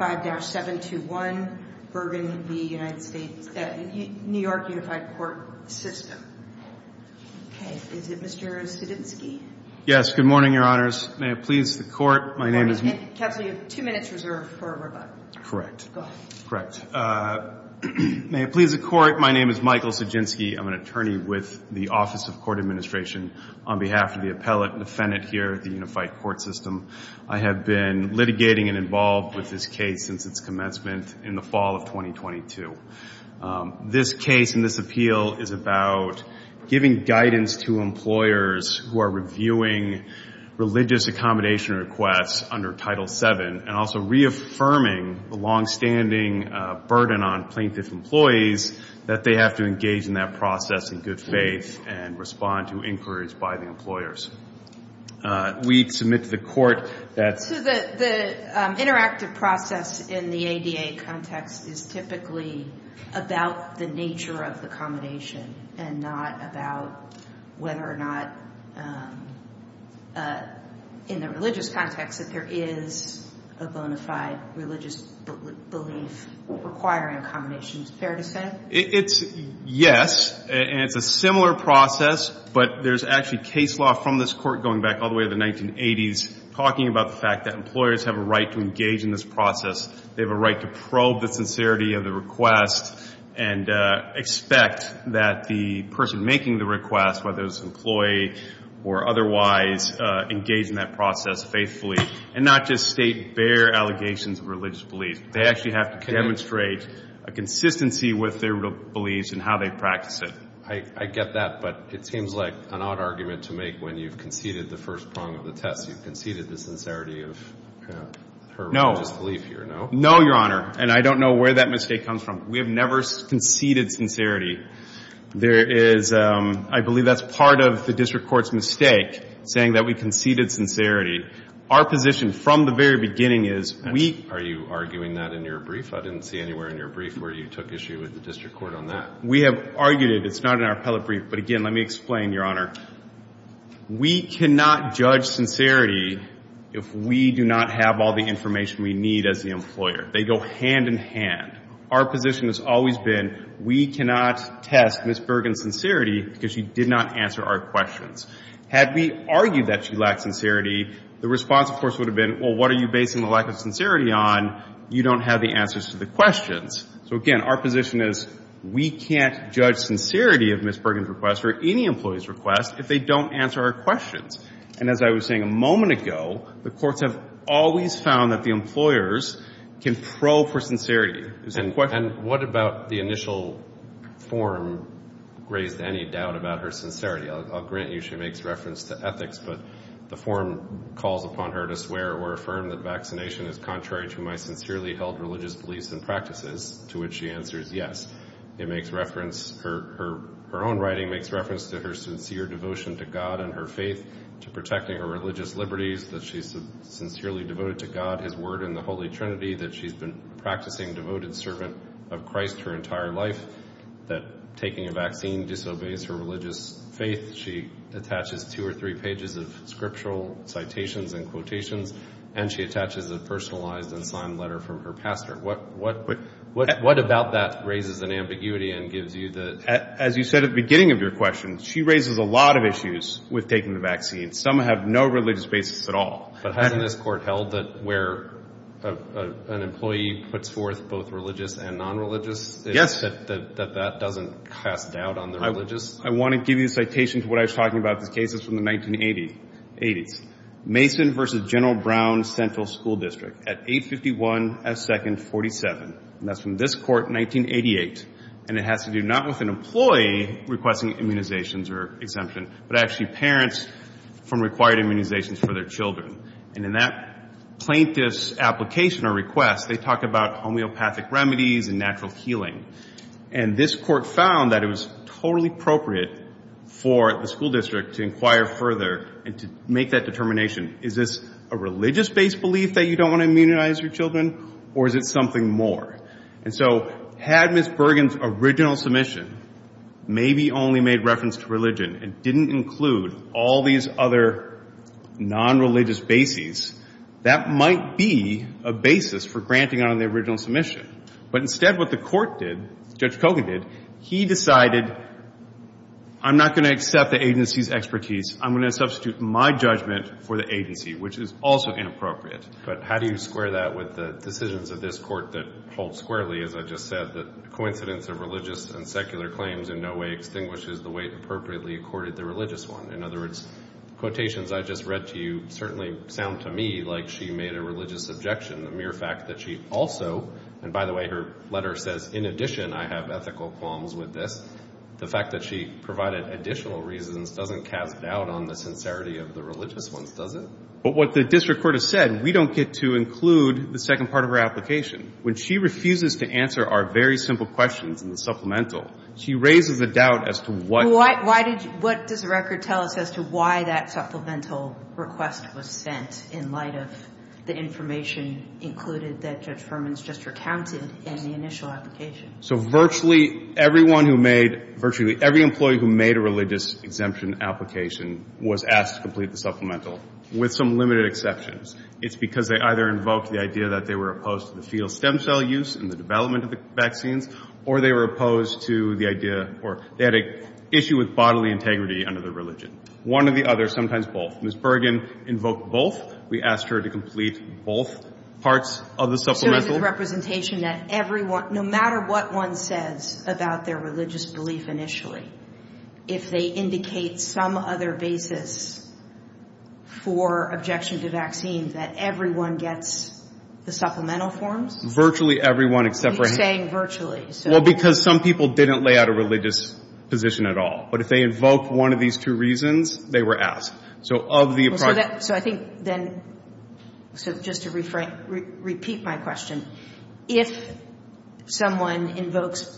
5-721 Bergin v. New York State Unified Court System. Okay, is it Mr. Sijinsky? Yes, good morning, Your Honors. May it please the Court, my name is... Good morning. Counsel, you have two minutes reserved for a rebuttal. Correct. Go ahead. Correct. May it please the Court, my name is Michael Sijinsky. I'm an attorney with the Office of Court Administration. On behalf of the appellate and defendant here at the Unified Court System, I have been litigating and involved with this case since its commencement in the fall of 2022. This case and this appeal is about giving guidance to employers who are reviewing religious accommodation requests under Title VII and also reaffirming the longstanding burden on plaintiff employees that they have to engage in that process in good faith and respond to inquiries by the employers. We submit to the Court that... So the interactive process in the ADA context is typically about the nature of the accommodation and not about whether or not, in the religious context, that there is a bona fide religious belief requiring accommodation. Is it fair to say? It's yes, and it's a similar process, but there's actually case law from this Court going back all the way to the 1980s talking about the fact that employers have a right to engage in this process. They have a right to probe the sincerity of the request and expect that the person making the request, whether it's an employee or otherwise, engage in that process faithfully and not just state bare allegations of religious belief. They actually have to demonstrate a consistency with their beliefs and how they practice it. I get that, but it seems like an odd argument to make when you've conceded the first prong of the test. You've conceded the sincerity of her religious belief here, no? No, Your Honor, and I don't know where that mistake comes from. We have never conceded sincerity. I believe that's part of the district court's mistake, saying that we conceded sincerity. Our position from the very beginning is we... Are you arguing that in your brief? I didn't see anywhere in your brief where you took issue with the district court on that. We have argued it. It's not in our appellate brief, but again, let me explain, Your Honor. We cannot judge sincerity if we do not have all the information we need as the employer. They go hand in hand. Our position has always been we cannot test Ms. Bergen's sincerity because she did not answer our questions. Had we argued that she lacked sincerity, the response, of course, would have been, well, what are you basing the lack of sincerity on? You don't have the answers to the questions. So, again, our position is we can't judge sincerity of Ms. Bergen's request or any employee's request if they don't answer our questions. And as I was saying a moment ago, the courts have always found that the employers can probe for sincerity. And what about the initial form raised any doubt about her sincerity? I'll grant you she makes reference to ethics, but the form calls upon her to swear or affirm that vaccination is contrary to my sincerely held religious beliefs and practices, to which she answers yes. Her own writing makes reference to her sincere devotion to God and her faith, to protecting her religious liberties, that she's sincerely devoted to God, his word, and the Holy Trinity, that she's been a practicing devoted servant of Christ her entire life, that taking a vaccine disobeys her religious faith. She attaches two or three pages of scriptural citations and quotations, and she attaches a personalized and signed letter from her pastor. What about that raises an ambiguity and gives you the ‑‑ As you said at the beginning of your question, she raises a lot of issues with taking the vaccine. Some have no religious basis at all. But hasn't this court held that where an employee puts forth both religious and nonreligious, that that doesn't cast doubt on the religious? I want to give you a citation to what I was talking about. This case is from the 1980s. Mason v. General Brown Central School District at 851 S. 2nd 47. And that's from this court in 1988. And it has to do not with an employee requesting immunizations or exemption, but actually parents from required immunizations for their children. And in that plaintiff's application or request, they talk about homeopathic remedies and natural healing. And this court found that it was totally appropriate for the school district to inquire further and to make that determination. Is this a religious‑based belief that you don't want to immunize your children, or is it something more? And so had Ms. Bergen's original submission maybe only made reference to religion and didn't include all these other nonreligious bases, that might be a basis for granting on the original submission. But instead what the court did, Judge Kogan did, he decided I'm not going to accept the agency's expertise. I'm going to substitute my judgment for the agency, which is also inappropriate. But how do you square that with the decisions of this court that hold squarely, as I just said, that coincidence of religious and secular claims in no way extinguishes the way it appropriately accorded the religious one? In other words, quotations I just read to you certainly sound to me like she made a religious objection, the mere fact that she also, and by the way, her letter says, in addition I have ethical qualms with this, the fact that she provided additional reasons doesn't cast doubt on the sincerity of the religious ones, does it? But what the district court has said, we don't get to include the second part of her application. When she refuses to answer our very simple questions in the supplemental, she raises a doubt as to what ‑‑ Supplemental request was sent in light of the information included that Judge Furman's just recounted in the initial application. So virtually everyone who made, virtually every employee who made a religious exemption application was asked to complete the supplemental, with some limited exceptions. It's because they either invoked the idea that they were opposed to the fetal stem cell use and the development of the vaccines, or they were opposed to the idea, or they had an issue with bodily integrity under the religion. One or the other, sometimes both. Ms. Bergen invoked both. We asked her to complete both parts of the supplemental. So is it the representation that everyone, no matter what one says about their religious belief initially, if they indicate some other basis for objection to vaccine, that everyone gets the supplemental forms? Virtually everyone except for ‑‑ You're saying virtually. Well, because some people didn't lay out a religious position at all. But if they invoked one of these two reasons, they were asked. So of the appropriate ‑‑ So I think then, just to repeat my question, if someone invokes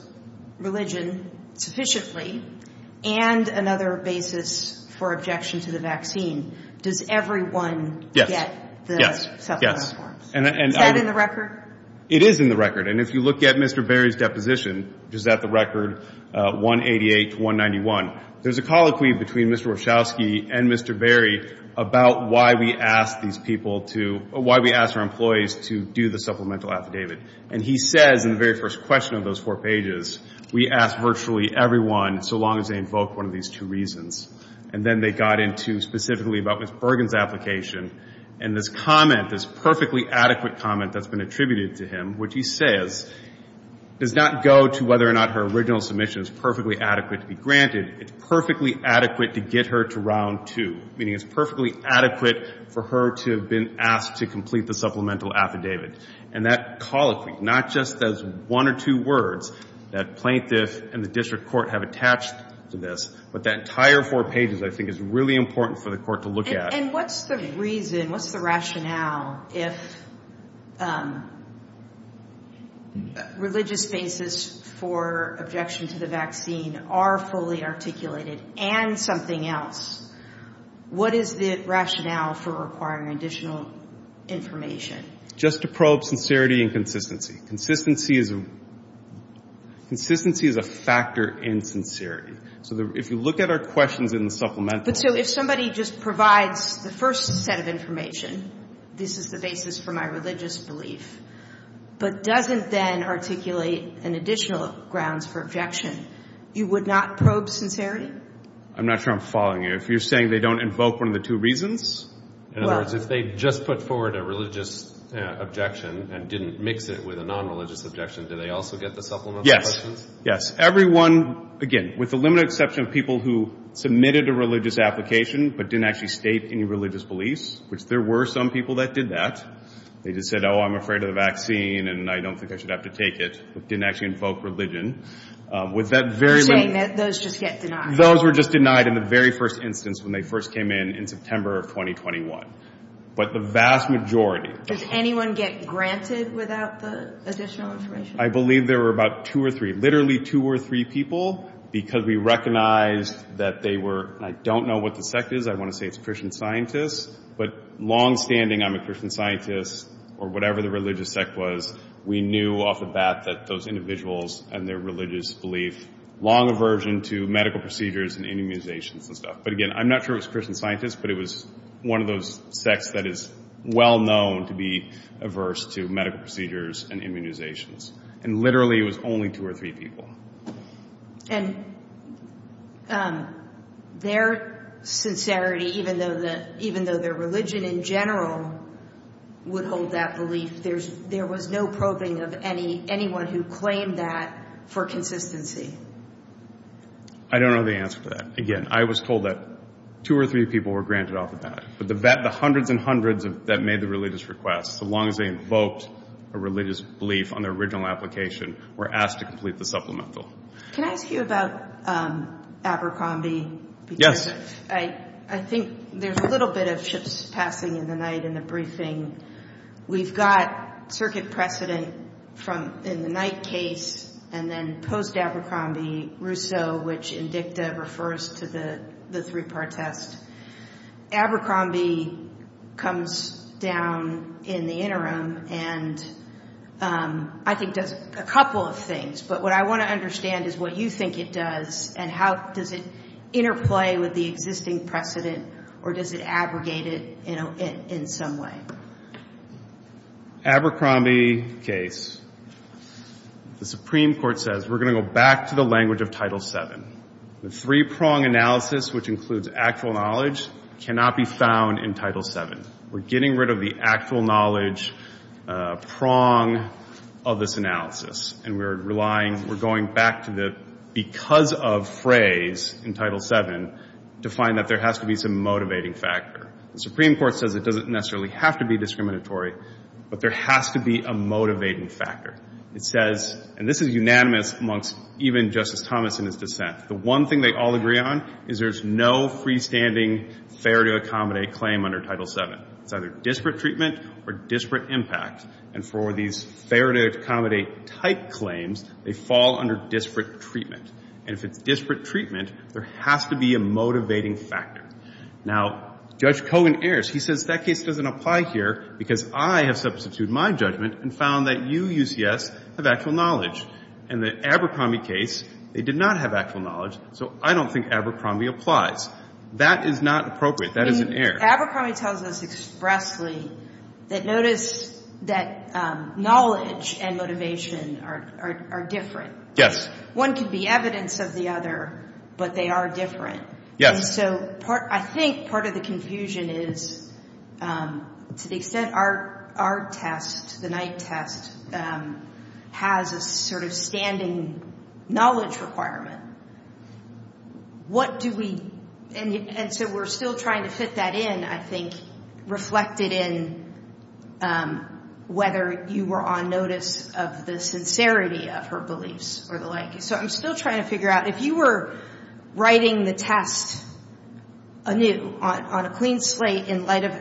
religion sufficiently and another basis for objection to the vaccine, does everyone get the supplemental forms? Yes. Is that in the record? It is in the record. And if you look at Mr. Berry's deposition, which is at the record 188 to 191, there's a colloquy between Mr. Wachowski and Mr. Berry about why we asked these people to ‑‑ why we asked our employees to do the supplemental affidavit. And he says in the very first question of those four pages, we asked virtually everyone so long as they invoked one of these two reasons. And then they got into specifically about Ms. Bergen's application. And this comment, this perfectly adequate comment that's been attributed to him, which he says does not go to whether or not her original submission is perfectly adequate to be granted. It's perfectly adequate to get her to round two, meaning it's perfectly adequate for her to have been asked to complete the supplemental affidavit. And that colloquy not just does one or two words that plaintiff and the district court have attached to this, but that entire four pages I think is really important for the court to look at. And what's the reason, what's the rationale, if religious basis for objection to the vaccine are fully articulated and something else, what is the rationale for requiring additional information? Just to probe sincerity and consistency. Consistency is a factor in sincerity. So if you look at our questions in the supplemental ‑‑ But so if somebody just provides the first set of information, this is the basis for my religious belief, but doesn't then articulate an additional grounds for objection, you would not probe sincerity? I'm not sure I'm following you. If you're saying they don't invoke one of the two reasons? In other words, if they just put forward a religious objection and didn't mix it with a nonreligious objection, do they also get the supplemental questions? Yes. Everyone, again, with the limited exception of people who submitted a religious application but didn't actually state any religious beliefs, which there were some people that did that. They just said, oh, I'm afraid of the vaccine and I don't think I should have to take it, but didn't actually invoke religion. You're saying that those just get denied? Those were just denied in the very first instance when they first came in in September of 2021. But the vast majority. Does anyone get granted without the additional information? I believe there were about two or three, literally two or three people, because we recognized that they were, I don't know what the sect is, I want to say it's Christian scientists, but longstanding, I'm a Christian scientist, or whatever the religious sect was, we knew off the bat that those individuals and their religious belief, long aversion to medical procedures and immunizations and stuff. But again, I'm not sure it was Christian scientists, but it was one of those sects that is well known to be averse to medical procedures and immunizations. And literally it was only two or three people. And their sincerity, even though their religion in general would hold that belief, there was no probing of anyone who claimed that for consistency. I don't know the answer to that. Again, I was told that two or three people were granted off the bat. But the hundreds and hundreds that made the religious request, so long as they invoked a religious belief on their original application, were asked to complete the supplemental. Can I ask you about Abercrombie? Yes. I think there's a little bit of ships passing in the night in the briefing. We've got circuit precedent in the night case, and then post-Abercrombie, Rousseau, which in dicta refers to the three-part test. Abercrombie comes down in the interim and I think does a couple of things. But what I want to understand is what you think it does, and how does it interplay with the existing precedent, or does it abrogate it in some way? Abercrombie case, the Supreme Court says we're going to go back to the language of Title VII. The three-prong analysis, which includes actual knowledge, cannot be found in Title VII. We're getting rid of the actual knowledge prong of this analysis, and we're relying, we're going back to the because of phrase in Title VII to find that there has to be some motivating factor. The Supreme Court says it doesn't necessarily have to be discriminatory, but there has to be a motivating factor. It says, and this is unanimous amongst even Justice Thomas in his dissent, the one thing they all agree on is there's no freestanding fair-to-accommodate claim under Title VII. It's either disparate treatment or disparate impact. And for these fair-to-accommodate type claims, they fall under disparate treatment. And if it's disparate treatment, there has to be a motivating factor. Now, Judge Kogan errs. He says that case doesn't apply here because I have substituted my judgment and found that you, UCS, have actual knowledge. In the Abercrombie case, they did not have actual knowledge, so I don't think Abercrombie applies. That is not appropriate. That is an error. Abercrombie tells us expressly that notice that knowledge and motivation are different. Yes. One could be evidence of the other, but they are different. Yes. And so I think part of the confusion is, to the extent our test, the Knight test, has a sort of standing knowledge requirement, what do we – and so we're still trying to fit that in, I think, reflected in whether you were on notice of the sincerity of her beliefs or the like. So I'm still trying to figure out, if you were writing the test anew on a clean slate in light of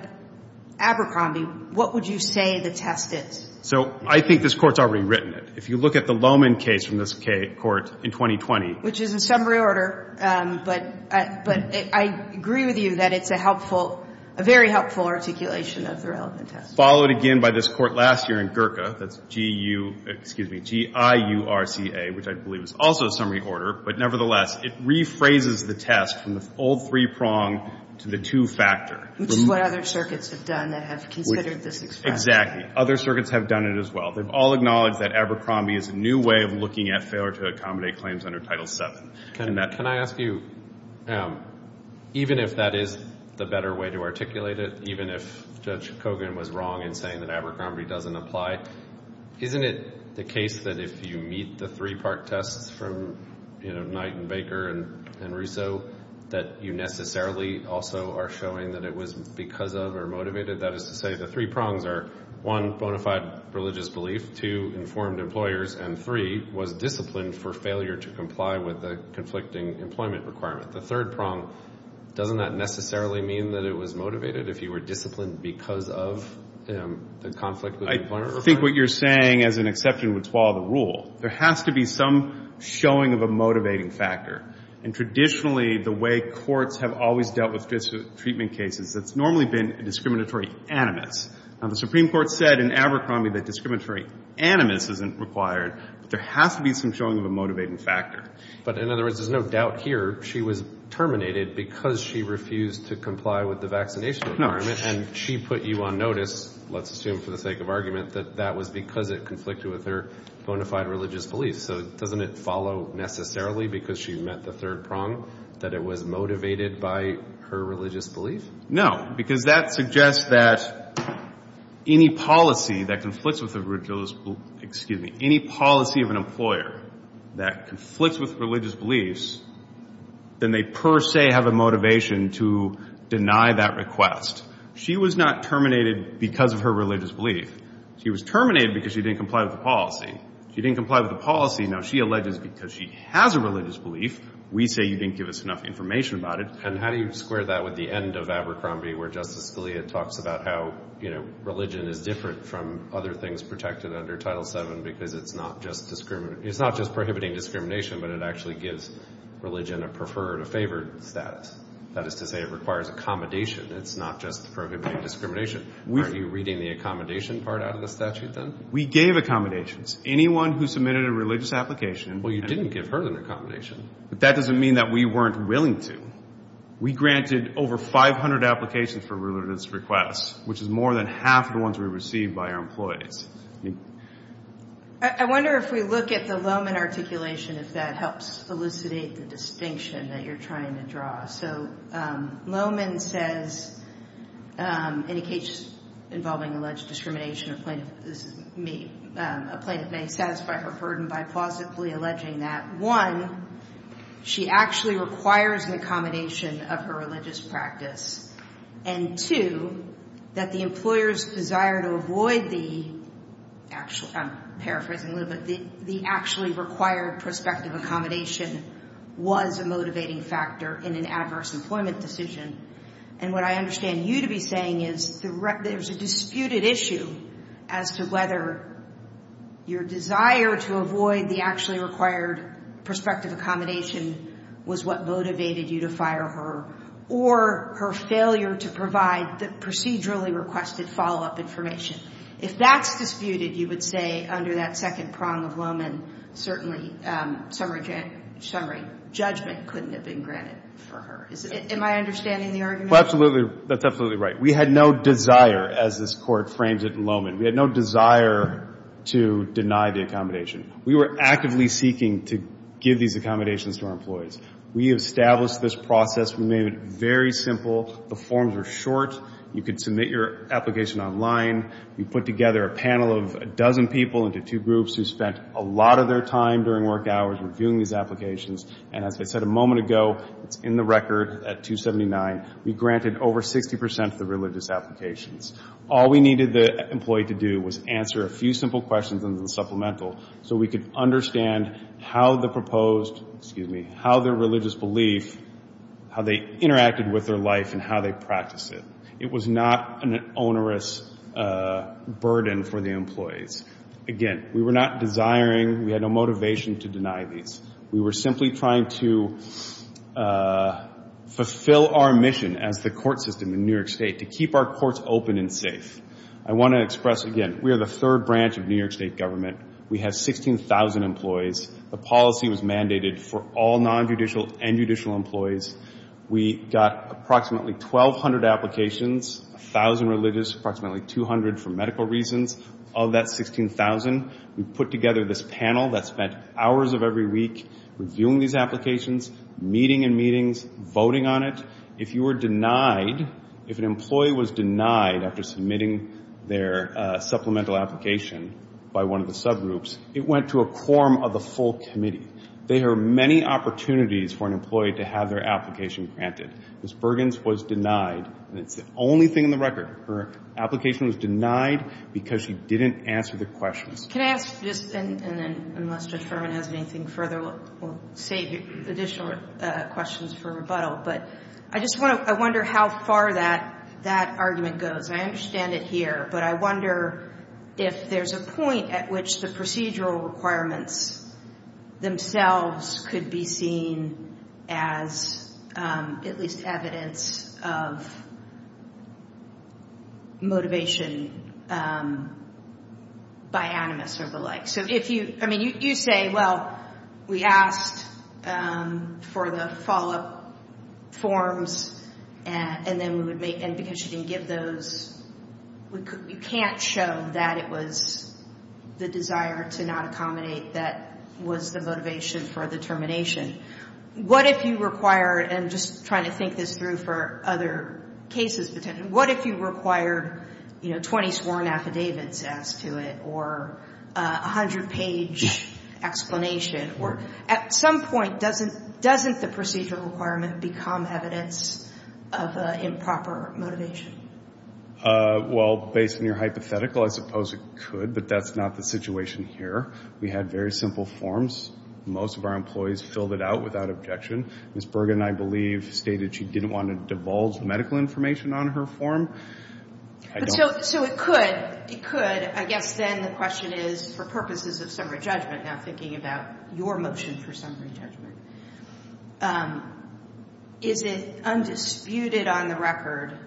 Abercrombie, what would you say the test is? So I think this Court's already written it. If you look at the Lohmann case from this Court in 2020. Which is in summary order, but I agree with you that it's a helpful – a very helpful articulation of the relevant test. It's followed again by this Court last year in Gurka. That's G-U – excuse me, G-I-U-R-C-A, which I believe is also summary order. But nevertheless, it rephrases the test from the old three-prong to the two-factor. Which is what other circuits have done that have considered this expression. Exactly. Other circuits have done it as well. They've all acknowledged that Abercrombie is a new way of looking at failure to accommodate claims under Title VII. Can I ask you, even if that is the better way to articulate it, even if Judge Kogan was wrong in saying that Abercrombie doesn't apply, isn't it the case that if you meet the three-part tests from Knight and Baker and Russo, that you necessarily also are showing that it was because of or motivated? That is to say, the three prongs are, one, bona fide religious belief. Two, informed employers. And three, was disciplined for failure to comply with the conflicting employment requirement. The third prong, doesn't that necessarily mean that it was motivated if you were disciplined because of the conflict? I think what you're saying, as an exception, would swallow the rule. There has to be some showing of a motivating factor. And traditionally, the way courts have always dealt with treatment cases, it's normally been discriminatory animus. Now, the Supreme Court said in Abercrombie that discriminatory animus isn't required, but there has to be some showing of a motivating factor. But in other words, there's no doubt here. She was terminated because she refused to comply with the vaccination requirement. And she put you on notice, let's assume for the sake of argument, that that was because it conflicted with her bona fide religious belief. So doesn't it follow necessarily because she met the third prong that it was motivated by her religious belief? No, because that suggests that any policy that conflicts with a religious belief, excuse me, any policy of an employer that conflicts with religious beliefs, then they per se have a motivation to deny that request. She was not terminated because of her religious belief. She was terminated because she didn't comply with the policy. She didn't comply with the policy. Now, she alleges because she has a religious belief. We say you didn't give us enough information about it. And how do you square that with the end of Abercrombie where Justice Scalia talks about how, you know, under Title VII because it's not just prohibiting discrimination, but it actually gives religion a preferred, a favored status. That is to say it requires accommodation. It's not just prohibiting discrimination. Are you reading the accommodation part out of the statute then? We gave accommodations. Anyone who submitted a religious application. Well, you didn't give her an accommodation. But that doesn't mean that we weren't willing to. We granted over 500 applications for religious requests, which is more than half of the ones we received by our employees. I wonder if we look at the Lohman articulation, if that helps elucidate the distinction that you're trying to draw. So Lohman says, in a case involving alleged discrimination, a plaintiff may satisfy her burden by plausibly alleging that, one, she actually requires an accommodation of her religious practice, and two, that the employer's desire to avoid the actual, I'm paraphrasing a little bit, the actually required prospective accommodation was a motivating factor in an adverse employment decision. And what I understand you to be saying is there's a disputed issue as to whether your desire to avoid the actually required prospective accommodation was what motivated you to fire her or her failure to provide the procedurally requested follow-up information. If that's disputed, you would say under that second prong of Lohman, certainly summary judgment couldn't have been granted for her. Am I understanding the argument? Well, absolutely. That's absolutely right. We had no desire, as this Court frames it in Lohman, we had no desire to deny the accommodation. We were actively seeking to give these accommodations to our employees. We established this process. We made it very simple. The forms were short. You could submit your application online. We put together a panel of a dozen people into two groups who spent a lot of their time during work hours reviewing these applications, and as I said a moment ago, it's in the record at 279, we granted over 60% of the religious applications. All we needed the employee to do was answer a few simple questions in the supplemental so we could understand how the proposed, excuse me, how their religious belief, how they interacted with their life and how they practiced it. It was not an onerous burden for the employees. Again, we were not desiring, we had no motivation to deny these. We were simply trying to fulfill our mission as the court system in New York State to keep our courts open and safe. I want to express again, we are the third branch of New York State government. We have 16,000 employees. The policy was mandated for all non-judicial and judicial employees. We got approximately 1,200 applications, 1,000 religious, approximately 200 for medical reasons. Of that 16,000, we put together this panel that spent hours of every week reviewing these applications, meeting in meetings, voting on it. If you were denied, if an employee was denied after submitting their supplemental application by one of the subgroups, it went to a quorum of the full committee. There are many opportunities for an employee to have their application granted. Ms. Bergens was denied, and it's the only thing in the record. Her application was denied because she didn't answer the questions. Can I ask just, and then unless Judge Furman has anything further, we'll save additional questions for rebuttal, but I just wonder how far that argument goes. I understand it here, but I wonder if there's a point at which the procedural requirements themselves could be seen as at least evidence of motivation by animus or the like. So if you, I mean, you say, well, we asked for the follow-up forms, and then we would make, and because she didn't give those, we can't show that it was the desire to not accommodate that was the motivation for the termination. What if you require, and just trying to think this through for other cases, what if you required, you know, 20 sworn affidavits as to it or 100-page explanation? Or at some point, doesn't the procedural requirement become evidence of improper motivation? Well, based on your hypothetical, I suppose it could, but that's not the situation here. We had very simple forms. Most of our employees filled it out without objection. Ms. Bergen, I believe, stated she didn't want to divulge medical information on her form. So it could. It could. I guess then the question is, for purposes of summary judgment, now thinking about your motion for summary judgment, is it undisputed on the record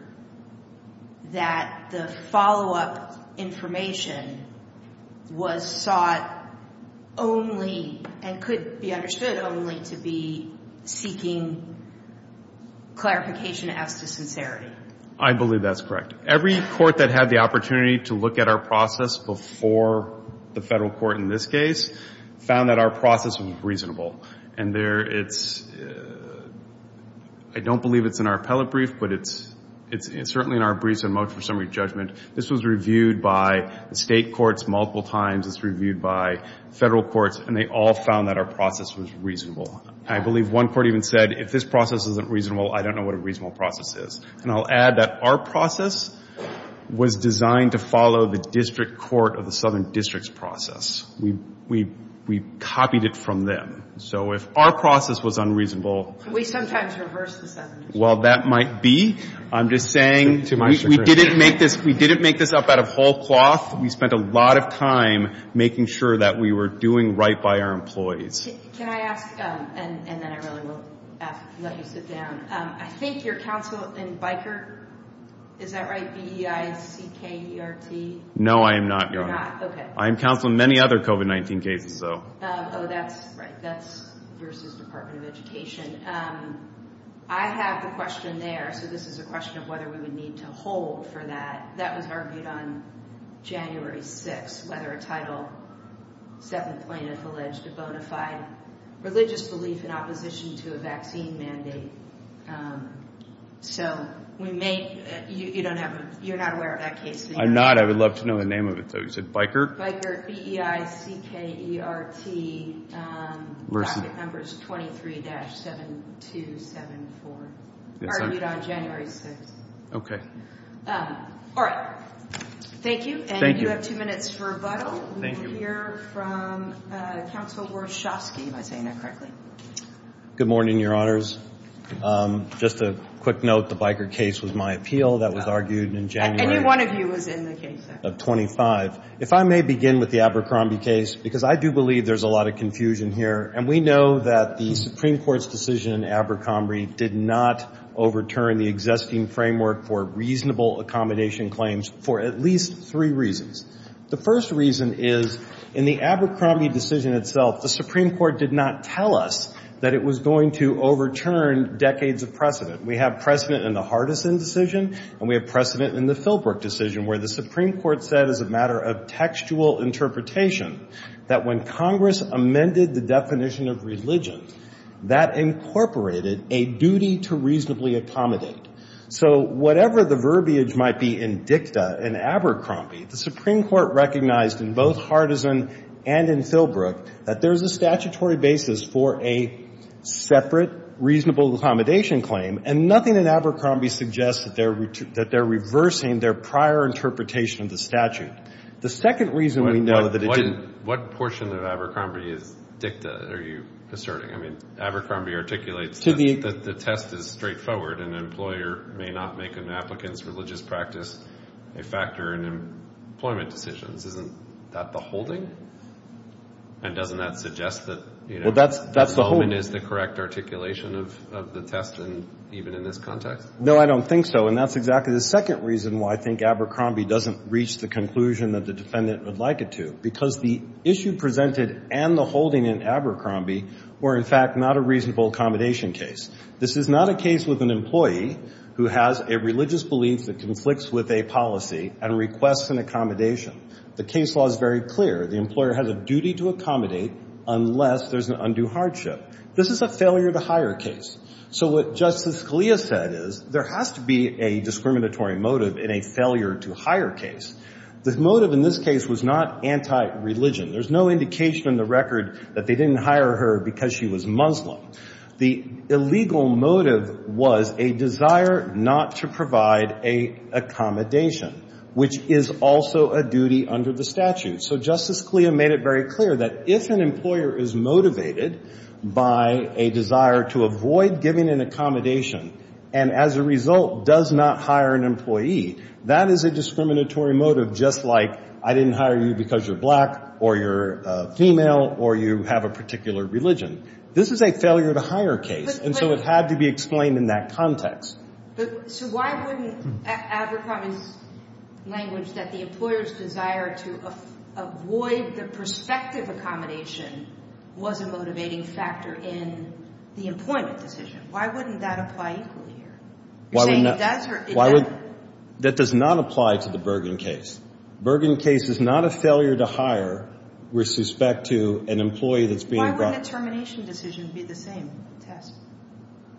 that the follow-up information was sought only and could be understood only to be seeking clarification as to sincerity? I believe that's correct. Every court that had the opportunity to look at our process before the federal court in this case found that our process was reasonable. And I don't believe it's in our appellate brief, but it's certainly in our briefs and motion for summary judgment. This was reviewed by the state courts multiple times. It's reviewed by federal courts, and they all found that our process was reasonable. I believe one court even said, if this process isn't reasonable, I don't know what a reasonable process is. And I'll add that our process was designed to follow the district court of the Southern District's process. We copied it from them. So if our process was unreasonable. Could we sometimes reverse the sentence? Well, that might be. I'm just saying we didn't make this up out of whole cloth. We spent a lot of time making sure that we were doing right by our employees. Can I ask, and then I really will let you sit down. I think you're counsel in Bikert. Is that right? B-E-I-C-K-E-R-T? No, I am not, Your Honor. You're not? Okay. I am counsel in many other COVID-19 cases, though. Oh, that's right. That's your assistant department of education. I have the question there. So this is a question of whether we would need to hold for that. That was argued on January 6th, whether a Title VII plaintiff alleged a bona fide religious belief in opposition to a vaccine mandate. So you're not aware of that case? I'm not. I would love to know the name of it, though. Is it Bikert? Bikert, B-E-I-C-K-E-R-T, docket numbers 23-7274, argued on January 6th. Okay. All right. Thank you. Thank you. And you have two minutes for rebuttal. Thank you. We will hear from counsel Warshawski, if I'm saying that correctly. Good morning, Your Honors. Just a quick note, the Bikert case was my appeal. That was argued in January. Any one of you was in the case. Of 25. If I may begin with the Abercrombie case, because I do believe there's a lot of confusion here, and we know that the Supreme Court's decision in Abercrombie did not overturn the existing framework for reasonable accommodation claims for at least three reasons. The first reason is, in the Abercrombie decision itself, the Supreme Court did not tell us that it was going to overturn decades of precedent. We have precedent in the Hardison decision, and we have precedent in the Filbrook decision, where the Supreme Court said as a matter of textual interpretation that when Congress amended the definition of religion, that incorporated a duty to reasonably accommodate. So whatever the verbiage might be in dicta in Abercrombie, the Supreme Court recognized in both Hardison and in Filbrook that there's a statutory basis for a separate reasonable accommodation claim, and nothing in Abercrombie suggests that they're reversing their prior interpretation of the statute. The second reason we know that it didn't... What portion of Abercrombie is dicta, are you asserting? I mean, Abercrombie articulates that the test is straightforward, and an employer may not make an applicant's religious practice a factor in employment decisions. Isn't that the holding? And doesn't that suggest that... Well, that's the holding. ...the moment is the correct articulation of the test, even in this context? No, I don't think so. And that's exactly the second reason why I think Abercrombie doesn't reach the conclusion that the defendant would like it to, because the issue presented and the holding in Abercrombie were, in fact, not a reasonable accommodation case. This is not a case with an employee who has a religious belief that conflicts with a policy and requests an accommodation. The case law is very clear. The employer has a duty to accommodate unless there's an undue hardship. This is a failure-to-hire case. So what Justice Scalia said is there has to be a discriminatory motive in a failure-to-hire case. The motive in this case was not anti-religion. There's no indication in the record that they didn't hire her because she was Muslim. The illegal motive was a desire not to provide a accommodation, which is also a duty under the statute. So Justice Scalia made it very clear that if an employer is motivated by a desire to avoid giving an accommodation and, as a result, does not hire an employee, that is a discriminatory motive, just like I didn't hire you because you're black or you're female or you have a particular religion. This is a failure-to-hire case, and so it had to be explained in that context. But, Sue, why wouldn't Abercrombie's language that the employer's desire to avoid the prospective accommodation was a motivating factor in the employment decision? Why wouldn't that apply equally here? You're saying it does or it doesn't? That does not apply to the Bergen case. Bergen case is not a failure-to-hire with respect to an employee that's being brought in. Why wouldn't a termination decision be the same test?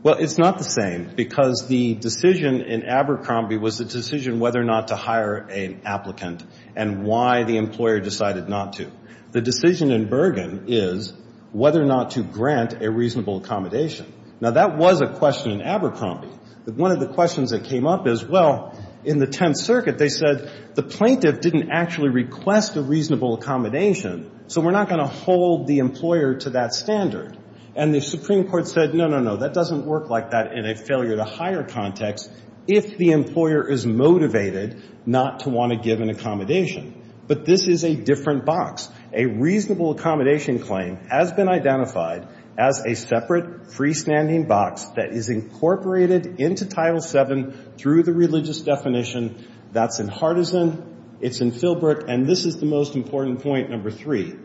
Well, it's not the same because the decision in Abercrombie was the decision whether or not to hire an applicant and why the employer decided not to. The decision in Bergen is whether or not to grant a reasonable accommodation. Now, that was a question in Abercrombie. One of the questions that came up is, well, in the Tenth Circuit, they said, the plaintiff didn't actually request a reasonable accommodation, so we're not going to hold the employer to that standard. And the Supreme Court said, no, no, no, that doesn't work like that in a failure-to-hire context if the employer is motivated not to want to give an accommodation. But this is a different box. A reasonable accommodation claim has been identified as a separate freestanding box that is incorporated into Title VII through the religious definition. That's in Hardison. It's in Philbrook. And this is the most important point, number three.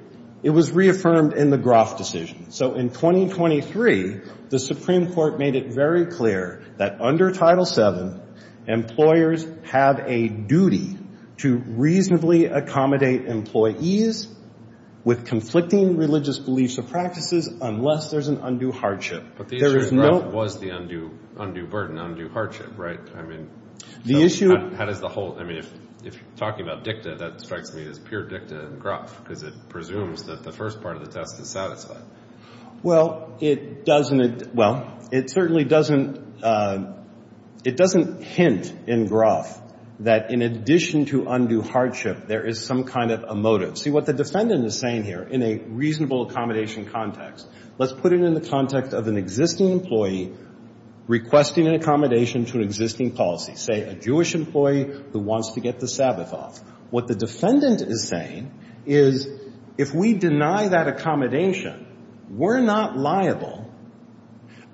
It was reaffirmed in the Groff decision. So in 2023, the Supreme Court made it very clear that under Title VII, employers have a duty to reasonably accommodate employees with conflicting religious beliefs or practices unless there's an undue hardship. But the issue in Groff was the undue burden, undue hardship, right? I mean, how does the whole – I mean, if you're talking about dicta, that strikes me as pure dicta in Groff because it presumes that the first part of the test is satisfied. Well, it doesn't – well, it certainly doesn't – it doesn't hint in Groff that in addition to undue hardship there is some kind of a motive. See, what the defendant is saying here in a reasonable accommodation context, let's put it in the context of an existing employee requesting an accommodation to an existing policy, say, a Jewish employee who wants to get the Sabbath off. What the defendant is saying is if we deny that accommodation, we're not liable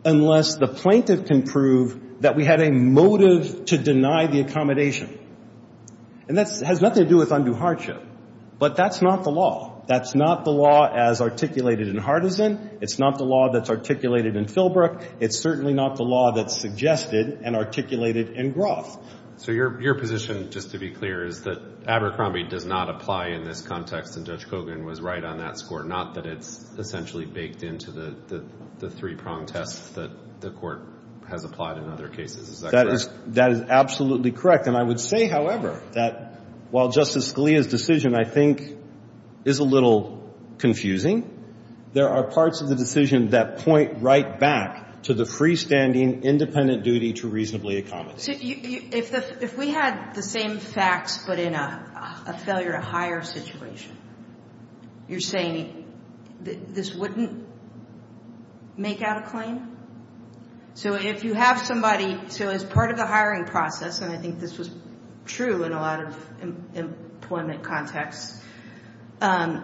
unless the plaintiff can prove that we had a motive to deny the accommodation. And that has nothing to do with undue hardship. But that's not the law. That's not the law as articulated in Hardison. It's not the law that's articulated in Philbrook. It's certainly not the law that's suggested and articulated in Groff. So your position, just to be clear, is that Abercrombie does not apply in this context and Judge Kogan was right on that score, not that it's essentially baked into the three-prong test that the Court has applied in other cases. Is that correct? That is absolutely correct. And I would say, however, that while Justice Scalia's decision, I think, is a little confusing, there are parts of the decision that point right back to the freestanding independent duty to reasonably accommodate. So if we had the same facts but in a failure-to-hire situation, you're saying this wouldn't make out a claim? So if you have somebody, so as part of the hiring process, and I think this was true in a lot of employment contexts,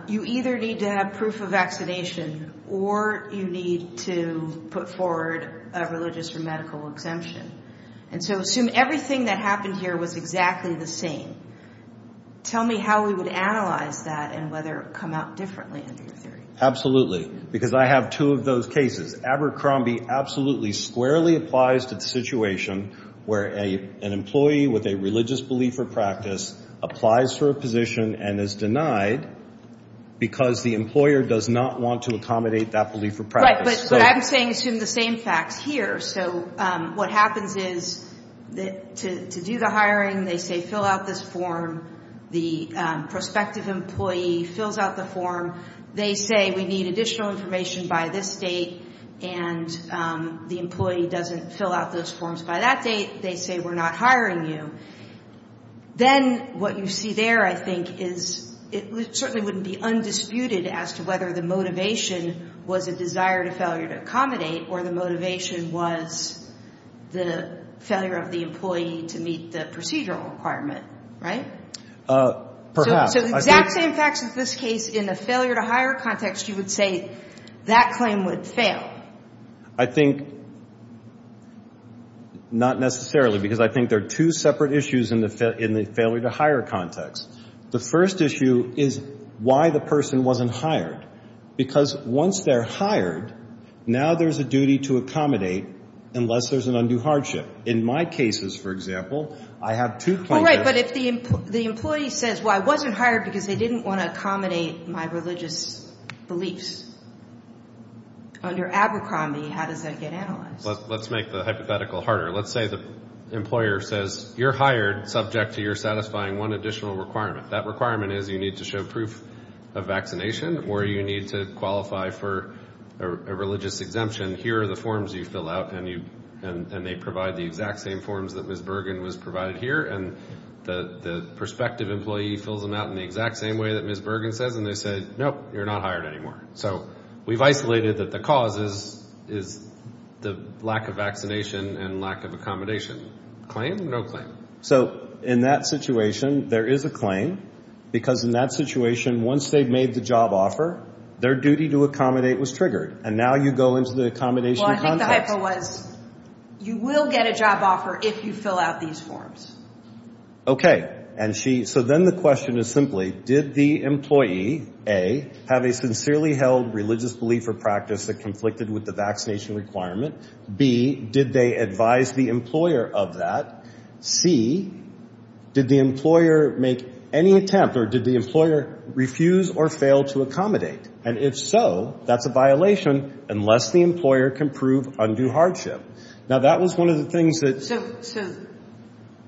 you either need to have proof of vaccination or you need to put forward a religious or medical exemption. And so assume everything that happened here was exactly the same. Tell me how we would analyze that and whether it would come out differently under your theory. Absolutely, because I have two of those cases. Abercrombie absolutely squarely applies to the situation where an employee with a religious belief or practice applies for a position and is denied because the employer does not want to accommodate that belief or practice. Right, but I'm saying assume the same facts here. So what happens is to do the hiring, they say fill out this form. The prospective employee fills out the form. They say we need additional information by this date, and the employee doesn't fill out those forms by that date. They say we're not hiring you. Then what you see there, I think, is it certainly wouldn't be undisputed as to whether the motivation was a desire to failure to accommodate or the motivation was the failure of the employee to meet the procedural requirement, right? Perhaps. So the exact same facts as this case in the failure to hire context, you would say that claim would fail. I think not necessarily because I think there are two separate issues in the failure to hire context. The first issue is why the person wasn't hired because once they're hired, now there's a duty to accommodate unless there's an undue hardship. In my cases, for example, I have two cases. Oh, right, but if the employee says, well, I wasn't hired because they didn't want to accommodate my religious beliefs. Under Abercrombie, how does that get analyzed? Let's make the hypothetical harder. Let's say the employer says you're hired subject to your satisfying one additional requirement. That requirement is you need to show proof of vaccination or you need to qualify for a religious exemption. Here are the forms you fill out, and they provide the exact same forms that Ms. Bergen was provided here, and the prospective employee fills them out in the exact same way that Ms. Bergen says, and they say, nope, you're not hired anymore. So we've isolated that the cause is the lack of vaccination and lack of accommodation. Claim or no claim? So in that situation, there is a claim because in that situation, once they've made the job offer, their duty to accommodate was triggered, and now you go into the accommodation context. Well, I think the hypo was you will get a job offer if you fill out these forms. Okay, and she, so then the question is simply, did the employee, A, have a sincerely held religious belief or practice that conflicted with the vaccination requirement? B, did they advise the employer of that? C, did the employer make any attempt or did the employer refuse or fail to accommodate? And if so, that's a violation unless the employer can prove undue hardship. Now, that was one of the things that. So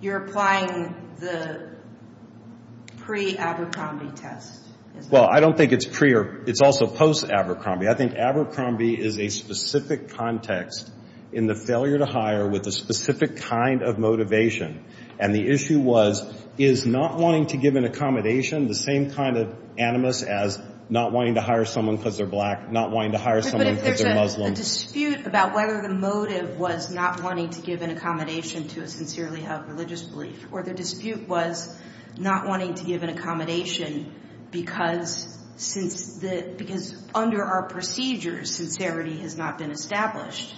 you're applying the pre-Abercrombie test? Well, I don't think it's pre or it's also post-Abercrombie. I think Abercrombie is a specific context in the failure to hire with a specific kind of motivation, and the issue was is not wanting to give an accommodation the same kind of animus as not wanting to hire someone because they're black, not wanting to hire someone because they're Muslim. A dispute about whether the motive was not wanting to give an accommodation to a sincerely held religious belief or the dispute was not wanting to give an accommodation because under our procedures, sincerity has not been established.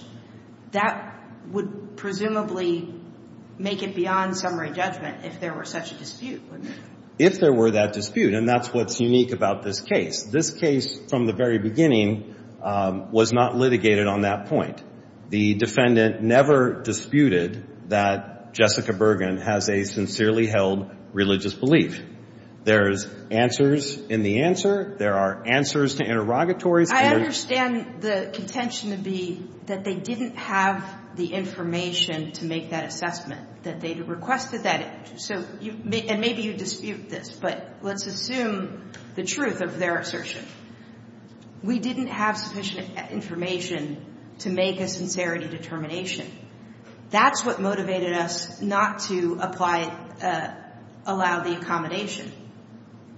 That would presumably make it beyond summary judgment if there were such a dispute, wouldn't it? If there were that dispute, and that's what's unique about this case. This case from the very beginning was not litigated on that point. The defendant never disputed that Jessica Bergen has a sincerely held religious belief. There's answers in the answer. There are answers to interrogatories. I understand the contention to be that they didn't have the information to make that assessment, that they requested that. And maybe you dispute this, but let's assume the truth of their assertion. We didn't have sufficient information to make a sincerity determination. That's what motivated us not to allow the accommodation.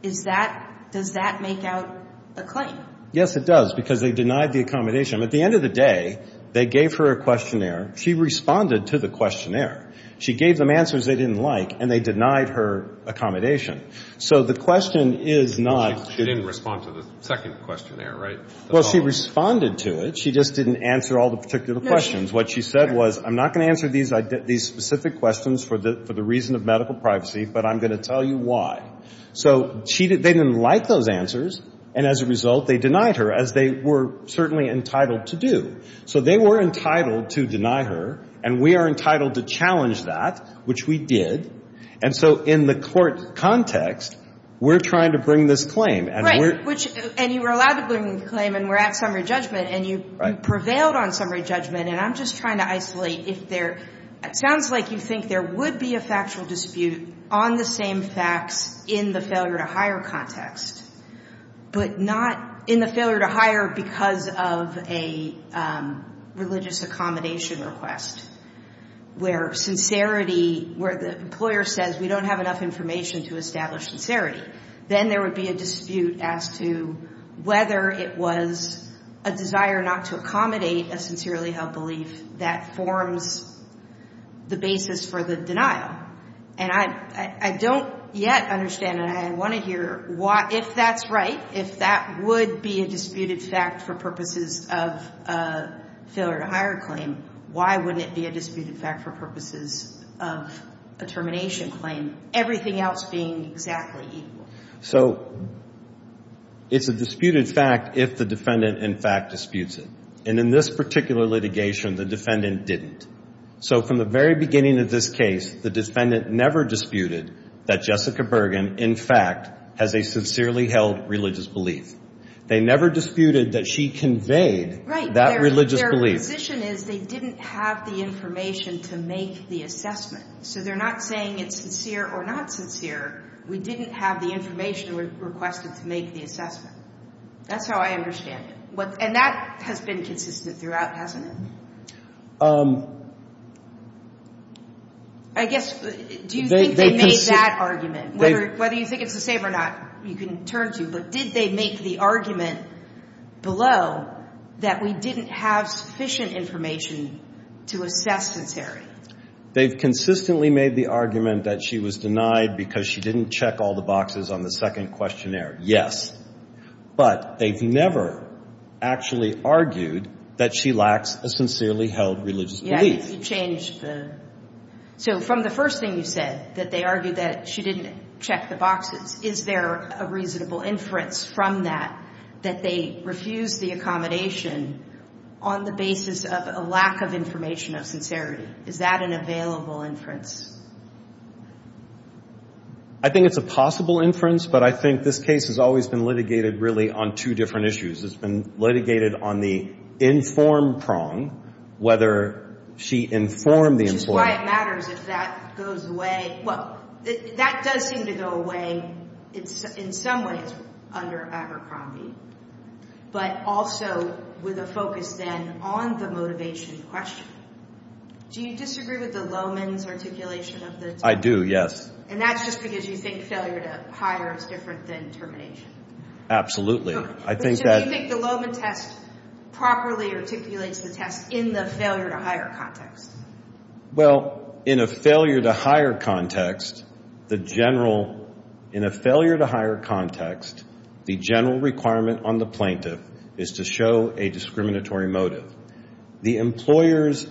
Does that make out a claim? Yes, it does, because they denied the accommodation. At the end of the day, they gave her a questionnaire. She responded to the questionnaire. She gave them answers they didn't like, and they denied her accommodation. So the question is not to She didn't respond to the second questionnaire, right? Well, she responded to it. She just didn't answer all the particular questions. What she said was, I'm not going to answer these specific questions for the reason of medical privacy, but I'm going to tell you why. So they didn't like those answers, and as a result, they denied her, as they were certainly entitled to do. So they were entitled to deny her, and we are entitled to challenge that, which we did. And so in the court context, we're trying to bring this claim. Right, and you were allowed to bring the claim, and we're at summary judgment, and you prevailed on summary judgment. And I'm just trying to isolate if there It sounds like you think there would be a factual dispute on the same facts in the failure-to-hire context, but not in the failure-to-hire because of a religious accommodation request, where the employer says we don't have enough information to establish sincerity. Then there would be a dispute as to whether it was a desire not to accommodate a sincerely held belief that forms the basis for the denial. And I don't yet understand, and I want to hear if that's right, if that would be a disputed fact for purposes of a failure-to-hire claim, why wouldn't it be a disputed fact for purposes of a termination claim, everything else being exactly equal? So it's a disputed fact if the defendant, in fact, disputes it. And in this particular litigation, the defendant didn't. So from the very beginning of this case, the defendant never disputed that Jessica Bergen, in fact, has a sincerely held religious belief. They never disputed that she conveyed that religious belief. Right. Their position is they didn't have the information to make the assessment. So they're not saying it's sincere or not sincere. We didn't have the information requested to make the assessment. That's how I understand it. And that has been consistent throughout, hasn't it? I guess, do you think they made that argument? Whether you think it's the same or not, you can turn to. But did they make the argument below that we didn't have sufficient information to assess sincerity? They've consistently made the argument that she was denied because she didn't check all the boxes on the second questionnaire, yes. But they've never actually argued that she lacks a sincerely held religious belief. Yeah, you changed the – so from the first thing you said, that they argued that she didn't check the boxes, is there a reasonable inference from that that they refused the accommodation on the basis of a lack of information of sincerity? Is that an available inference? I think it's a possible inference, but I think this case has always been litigated really on two different issues. It's been litigated on the informed prong, whether she informed the employer. Which is why it matters if that goes away. Well, that does seem to go away in some ways under Abercrombie, but also with a focus then on the motivation question. Do you disagree with the Lowman's articulation of the termination? I do, yes. And that's just because you think failure to hire is different than termination? Absolutely. Do you think the Lowman test properly articulates the test in the failure to hire context? Well, in a failure to hire context, the general – in a failure to hire context, the general requirement on the plaintiff is to show a discriminatory motive. The employer's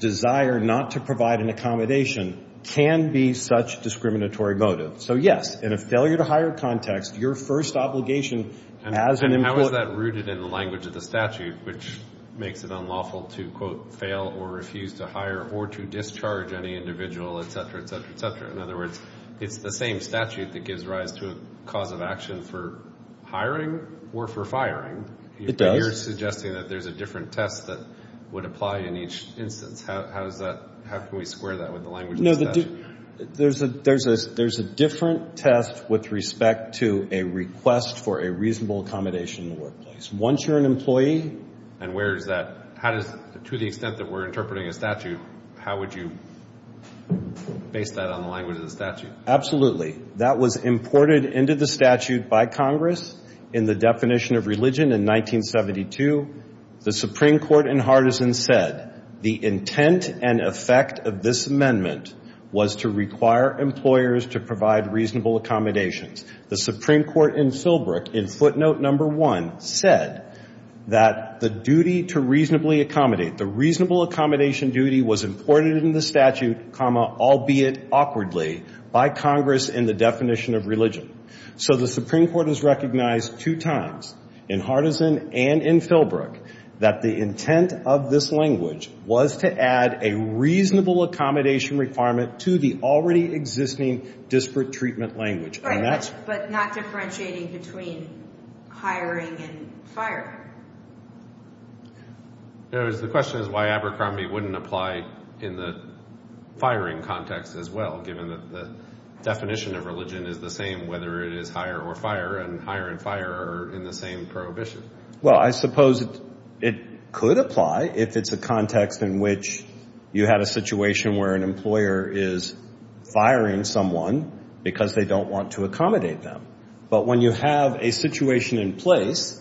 desire not to provide an accommodation can be such a discriminatory motive. So, yes, in a failure to hire context, your first obligation as an employer – And how is that rooted in the language of the statute, which makes it unlawful to, quote, fail or refuse to hire or to discharge any individual, et cetera, et cetera, et cetera? In other words, it's the same statute that gives rise to a cause of action for hiring or for firing. It does. But you're suggesting that there's a different test that would apply in each instance. How does that – how can we square that with the language of the statute? There's a different test with respect to a request for a reasonable accommodation in the workplace. Once you're an employee – And where is that – to the extent that we're interpreting a statute, how would you base that on the language of the statute? Absolutely. That was imported into the statute by Congress in the definition of religion in 1972. The Supreme Court in Hardison said the intent and effect of this amendment was to require employers to provide reasonable accommodations. The Supreme Court in Filbrook, in footnote number one, said that the duty to reasonably accommodate – was imported into the statute, albeit awkwardly, by Congress in the definition of religion. So the Supreme Court has recognized two times, in Hardison and in Filbrook, that the intent of this language was to add a reasonable accommodation requirement to the already existing disparate treatment language. Right, but not differentiating between hiring and firing. In other words, the question is why Abercrombie wouldn't apply in the firing context as well, given that the definition of religion is the same whether it is hire or fire, and hire and fire are in the same prohibition. Well, I suppose it could apply if it's a context in which you had a situation where an employer is firing someone because they don't want to accommodate them. But when you have a situation in place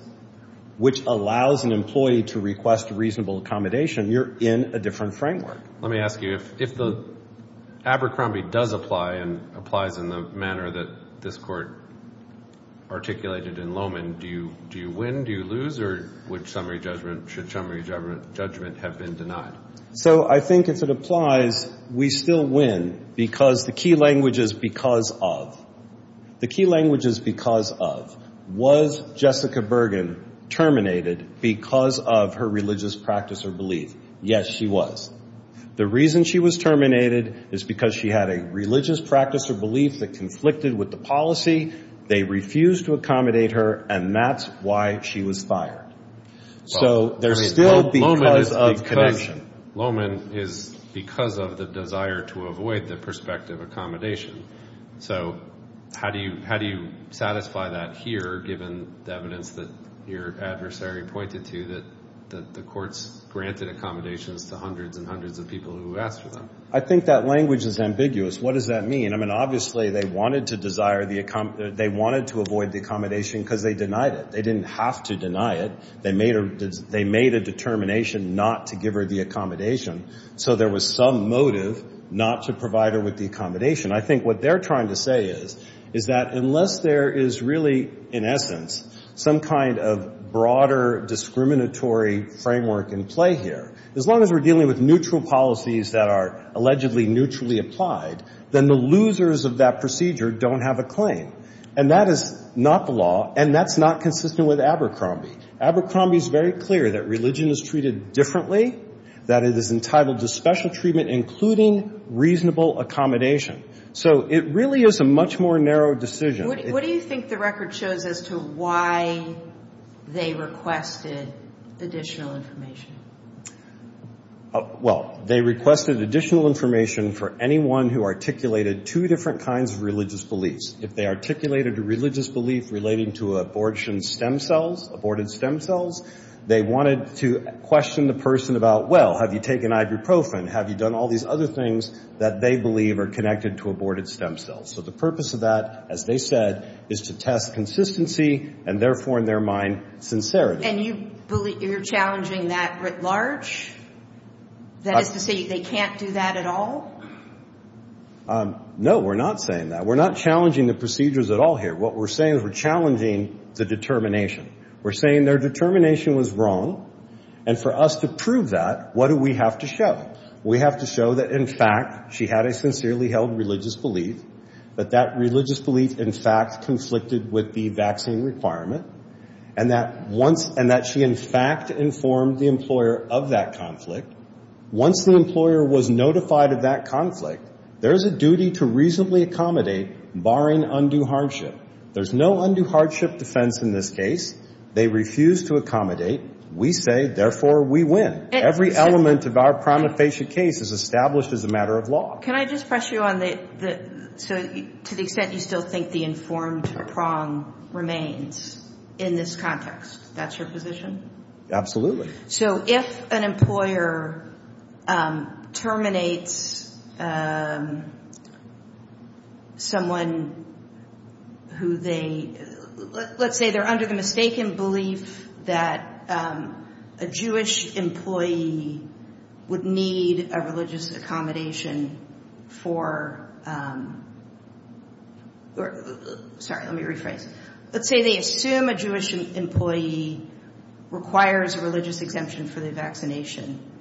which allows an employee to request reasonable accommodation, you're in a different framework. Let me ask you, if Abercrombie does apply and applies in the manner that this Court articulated in Lowman, do you win, do you lose, or should summary judgment have been denied? So I think if it applies, we still win because the key language is because of. The key language is because of. Was Jessica Bergen terminated because of her religious practice or belief? Yes, she was. The reason she was terminated is because she had a religious practice or belief that conflicted with the policy. They refused to accommodate her, and that's why she was fired. So they're still because of connection. Lowman is because of the desire to avoid the prospective accommodation. So how do you satisfy that here, given the evidence that your adversary pointed to, that the courts granted accommodations to hundreds and hundreds of people who asked for them? I think that language is ambiguous. What does that mean? I mean, obviously they wanted to avoid the accommodation because they denied it. They didn't have to deny it. They made a determination not to give her the accommodation, so there was some motive not to provide her with the accommodation. I think what they're trying to say is that unless there is really, in essence, some kind of broader discriminatory framework in play here, as long as we're dealing with neutral policies that are allegedly neutrally applied, then the losers of that procedure don't have a claim. And that is not the law, and that's not consistent with Abercrombie. Abercrombie is very clear that religion is treated differently, that it is entitled to special treatment, including reasonable accommodation. So it really is a much more narrow decision. What do you think the record shows as to why they requested additional information? Well, they requested additional information for anyone who articulated two different kinds of religious beliefs. If they articulated a religious belief relating to abortion stem cells, aborted stem cells, they wanted to question the person about, well, have you taken ibuprofen? Have you done all these other things that they believe are connected to aborted stem cells? So the purpose of that, as they said, is to test consistency and therefore, in their mind, sincerity. And you're challenging that writ large? That is to say they can't do that at all? No, we're not saying that. We're not challenging the procedures at all here. What we're saying is we're challenging the determination. We're saying their determination was wrong, and for us to prove that, what do we have to show? We have to show that, in fact, she had a sincerely held religious belief, but that religious belief, in fact, conflicted with the vaccine requirement, and that she, in fact, informed the employer of that conflict. Once the employer was notified of that conflict, there is a duty to reasonably accommodate, barring undue hardship. There's no undue hardship defense in this case. They refuse to accommodate. We say, therefore, we win. Every element of our prima facie case is established as a matter of law. Can I just press you on the, so to the extent you still think the informed prong remains in this context, that's your position? Absolutely. So if an employer terminates someone who they, let's say they're under the mistaken belief that a Jewish employee would need a religious accommodation for, sorry, let me rephrase. Let's say they assume a Jewish employee requires a religious exemption for the vaccination.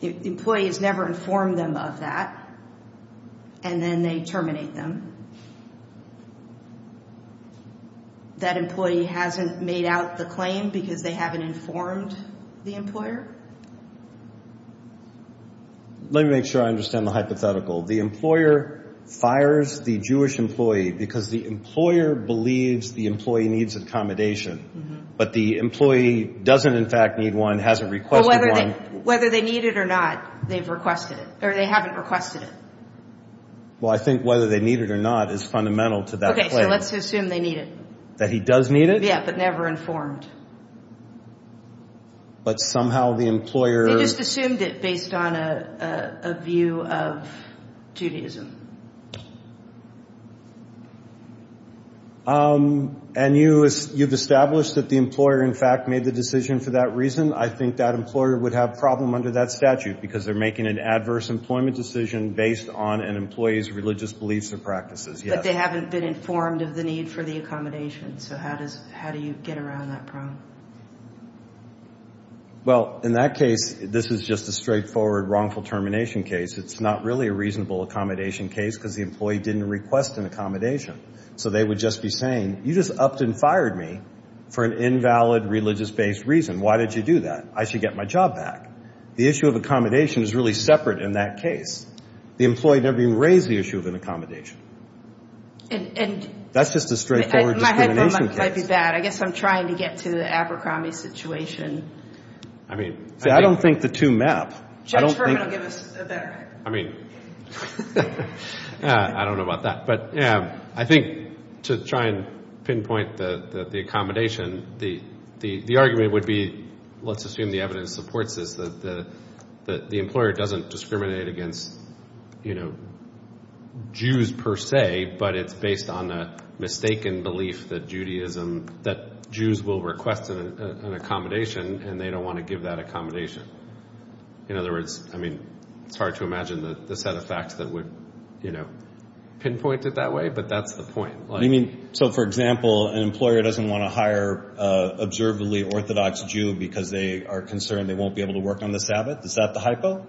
The employee has never informed them of that, and then they terminate them. That employee hasn't made out the claim because they haven't informed the employer? Let me make sure I understand the hypothetical. The employer fires the Jewish employee because the employer believes the employee needs accommodation, but the employee doesn't, in fact, need one, hasn't requested one. Whether they need it or not, they've requested it, or they haven't requested it. Well, I think whether they need it or not is fundamental to that claim. Okay, so let's assume they need it. That he does need it? Yeah, but never informed. But somehow the employer… They just assumed it based on a view of Judaism. And you've established that the employer, in fact, made the decision for that reason. I think that employer would have a problem under that statute because they're making an adverse employment decision based on an employee's religious beliefs or practices. But they haven't been informed of the need for the accommodation. So how do you get around that problem? Well, in that case, this is just a straightforward wrongful termination case. It's not really a reasonable accommodation case because the employee didn't request an accommodation. So they would just be saying, you just upped and fired me for an invalid religious-based reason. Why did you do that? I should get my job back. The issue of accommodation is really separate in that case. The employee never even raised the issue of an accommodation. That's just a straightforward discrimination case. My headroom might be bad. I guess I'm trying to get to the Abercrombie situation. See, I don't think the two map. Judge Herman will give us a better… I mean, I don't know about that. But I think to try and pinpoint the accommodation, the argument would be, let's assume the evidence supports this, that the employer doesn't discriminate against Jews per se, but it's based on a mistaken belief that Jews will request an accommodation, and they don't want to give that accommodation. In other words, I mean, it's hard to imagine the set of facts that would pinpoint it that way, but that's the point. So, for example, an employer doesn't want to hire an observably Orthodox Jew because they are concerned they won't be able to work on the Sabbath. Is that the hypo?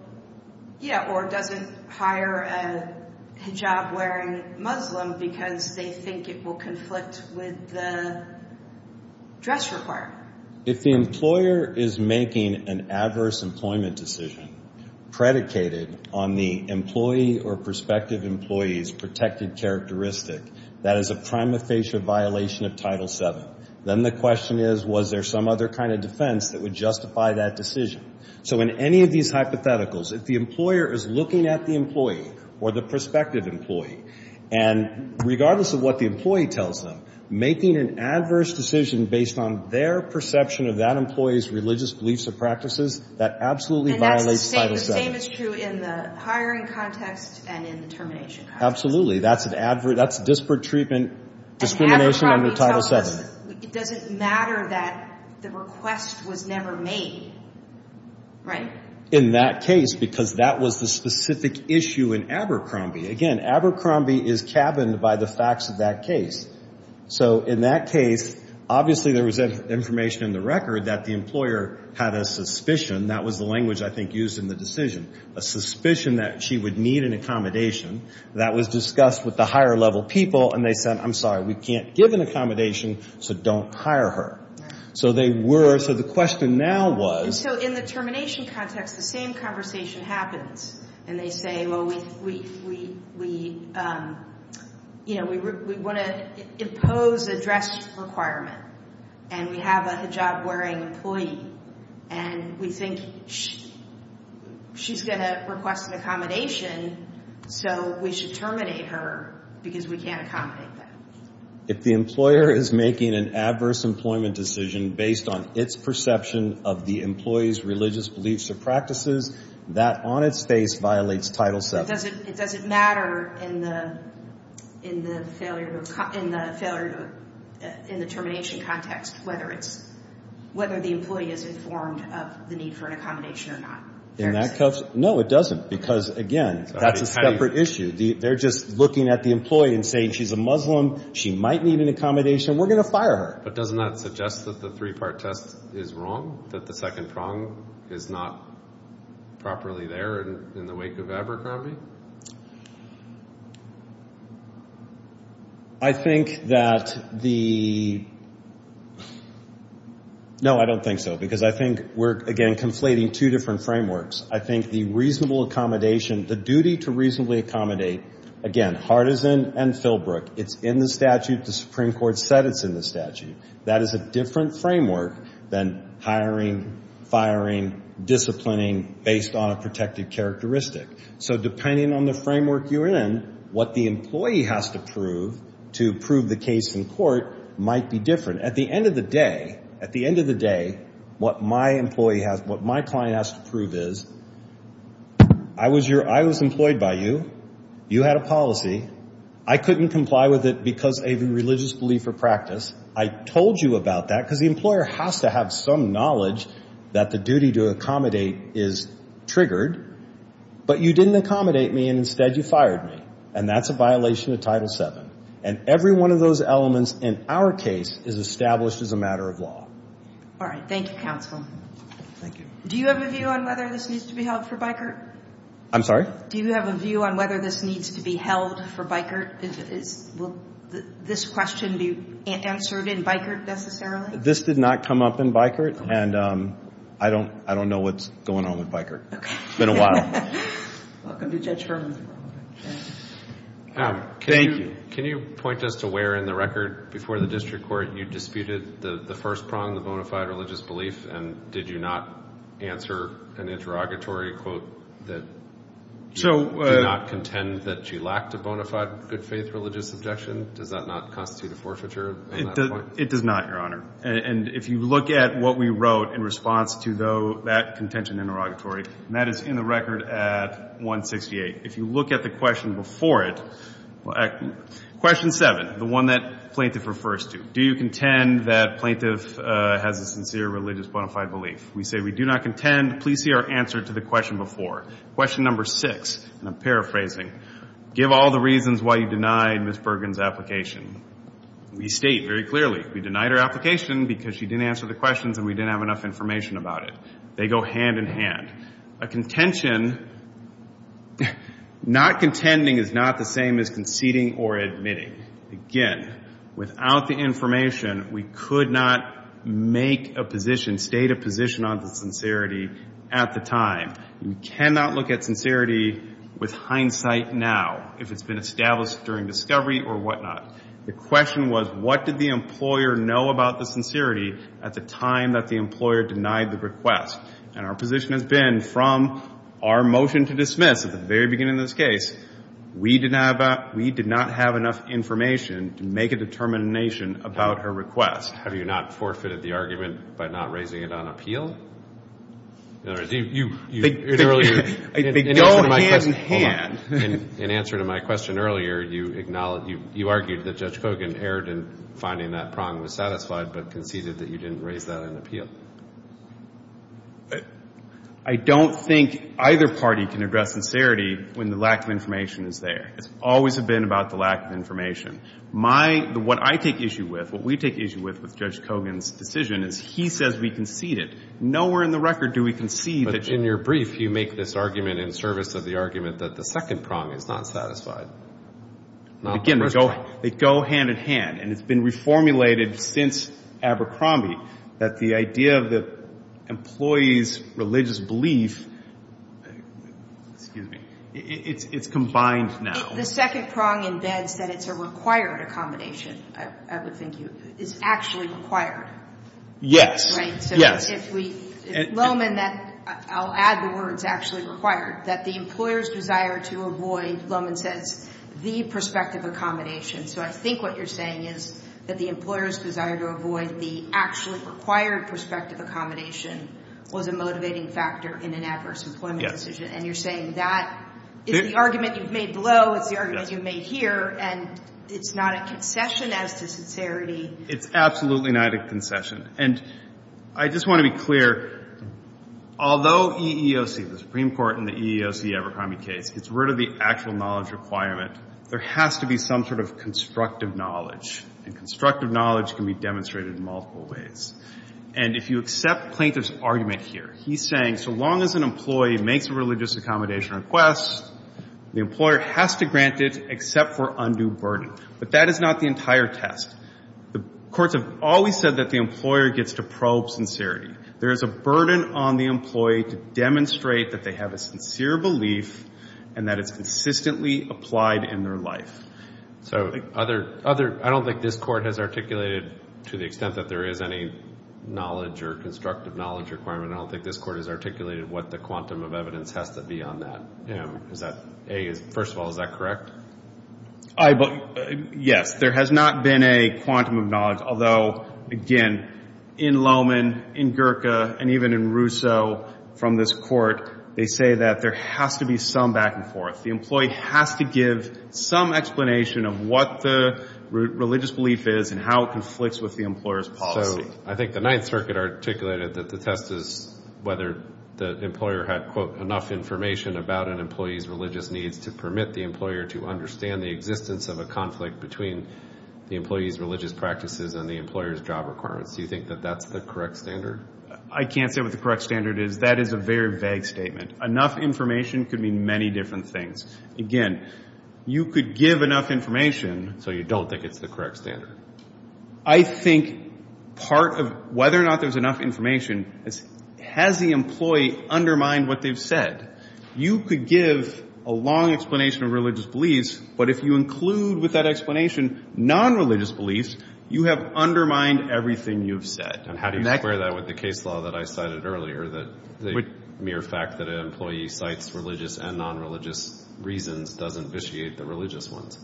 Yeah, or doesn't hire a hijab-wearing Muslim because they think it will conflict with the dress requirement. If the employer is making an adverse employment decision predicated on the employee or prospective employee's protected characteristic, that is a prima facie violation of Title VII, then the question is, was there some other kind of defense that would justify that decision? So in any of these hypotheticals, if the employer is looking at the employee or the prospective employee, and regardless of what the employee tells them, making an adverse decision based on their perception of that employee's religious beliefs or practices, that absolutely violates Title VII. And the same is true in the hiring context and in the termination context. Absolutely. That's disparate treatment discrimination under Title VII. And Abercrombie tells us it doesn't matter that the request was never made, right? In that case, because that was the specific issue in Abercrombie. Again, Abercrombie is cabined by the facts of that case. So in that case, obviously there was information in the record that the employer had a suspicion. That was the language I think used in the decision, a suspicion that she would need an accommodation. That was discussed with the higher-level people, and they said, I'm sorry, we can't give an accommodation, so don't hire her. So they were. So the question now was. So in the termination context, the same conversation happens. And they say, well, we want to impose a dress requirement, and we have a hijab-wearing employee, and we think she's going to request an accommodation. So we should terminate her because we can't accommodate that. If the employer is making an adverse employment decision based on its perception of the employee's religious beliefs or practices, that on its face violates Title VII. Does it matter in the termination context whether the employee is informed of the need for an accommodation or not? No, it doesn't, because, again, that's a separate issue. They're just looking at the employee and saying she's a Muslim, she might need an accommodation, we're going to fire her. But doesn't that suggest that the three-part test is wrong, that the second prong is not properly there in the wake of Abercrombie? I think that the... No, I don't think so, because I think we're, again, conflating two different frameworks. I think the reasonable accommodation, the duty to reasonably accommodate, again, Hardison and Philbrook, it's in the statute, the Supreme Court said it's in the statute. That is a different framework than hiring, firing, disciplining based on a protected characteristic. So depending on the framework you're in, what the employee has to prove to prove the case in court might be different. At the end of the day, what my client has to prove is I was employed by you, you had a policy, I couldn't comply with it because of a religious belief or practice, I told you about that, because the employer has to have some knowledge that the duty to accommodate is triggered, but you didn't accommodate me and instead you fired me, and that's a violation of Title VII. And every one of those elements in our case is established as a matter of law. All right. Thank you, counsel. Thank you. Do you have a view on whether this needs to be held for Bikert? I'm sorry? Do you have a view on whether this needs to be held for Bikert? Will this question be answered in Bikert necessarily? This did not come up in Bikert, and I don't know what's going on with Bikert. It's been a while. Welcome to Judge Herman's courtroom. Thank you. Can you point us to where in the record before the district court you disputed the first prong, the bona fide religious belief, and did you not answer an interrogatory quote that you did not contend that you lacked a bona fide good faith religious objection? Does that not constitute a forfeiture? It does not, Your Honor. And if you look at what we wrote in response to that contention interrogatory, and that is in the record at 168. If you look at the question before it, question 7, the one that plaintiff refers to, do you contend that plaintiff has a sincere religious bona fide belief? We say we do not contend. Please see our answer to the question before. Question number 6, and I'm paraphrasing, give all the reasons why you denied Ms. Bergen's application. We state very clearly. We denied her application because she didn't answer the questions and we didn't have enough information about it. They go hand in hand. A contention, not contending is not the same as conceding or admitting. Again, without the information, we could not make a position, state a position on the sincerity at the time. We cannot look at sincerity with hindsight now if it's been established during discovery or whatnot. The question was, what did the employer know about the sincerity at the time that the employer denied the request? And our position has been from our motion to dismiss at the very beginning of this case, we did not have enough information to make a determination about her request. Have you not forfeited the argument by not raising it on appeal? They go hand in hand. In answer to my question earlier, you argued that Judge Kogan erred in finding that Prong was satisfied but conceded that you didn't raise that on appeal. I don't think either party can address sincerity when the lack of information is there. It's always been about the lack of information. What I take issue with, what we take issue with, with Judge Kogan's decision is he says we conceded. Nowhere in the record do we concede that in your brief you make this argument in service of the argument that the second Prong is not satisfied. Again, they go hand in hand, and it's been reformulated since Abercrombie that the idea of the employee's religious belief, it's combined now. If the second Prong embeds that it's a required accommodation, I would think it's actually required. Yes. Right. So if we, if Lohman, I'll add the words actually required, that the employer's desire to avoid, Lohman says, the prospective accommodation. So I think what you're saying is that the employer's desire to avoid the actually required prospective accommodation was a motivating factor in an adverse employment decision. And you're saying that it's the argument you've made below, it's the argument you've made here, and it's not a concession as to sincerity. It's absolutely not a concession. And I just want to be clear, although EEOC, the Supreme Court in the EEOC Abercrombie case, gets rid of the actual knowledge requirement, there has to be some sort of constructive knowledge. And constructive knowledge can be demonstrated in multiple ways. And if you accept Plaintiff's argument here, he's saying so long as an employee makes a religious accommodation request, the employer has to grant it except for undue burden. But that is not the entire test. The courts have always said that the employer gets to probe sincerity. There is a burden on the employee to demonstrate that they have a sincere belief and that it's consistently applied in their life. So I don't think this court has articulated, to the extent that there is any knowledge or constructive knowledge requirement, I don't think this court has articulated what the quantum of evidence has to be on that. Is that, A, first of all, is that correct? Yes. There has not been a quantum of knowledge, although, again, in Lowman, in Gurka, and even in Russo from this court, they say that there has to be some back and forth. The employee has to give some explanation of what the religious belief is and how it conflicts with the employer's policy. So I think the Ninth Circuit articulated that the test is whether the employer had, quote, enough information about an employee's religious needs to permit the employer to understand the existence of a conflict between the employee's religious practices and the employer's job requirements. Do you think that that's the correct standard? I can't say what the correct standard is. That is a very vague statement. Enough information could mean many different things. Again, you could give enough information. So you don't think it's the correct standard? I think part of whether or not there's enough information is has the employee undermined what they've said? You could give a long explanation of religious beliefs, but if you include with that explanation non-religious beliefs, you have undermined everything you've said. And how do you square that with the case law that I cited earlier, the mere fact that an employee cites religious and non-religious reasons doesn't vitiate the religious ones?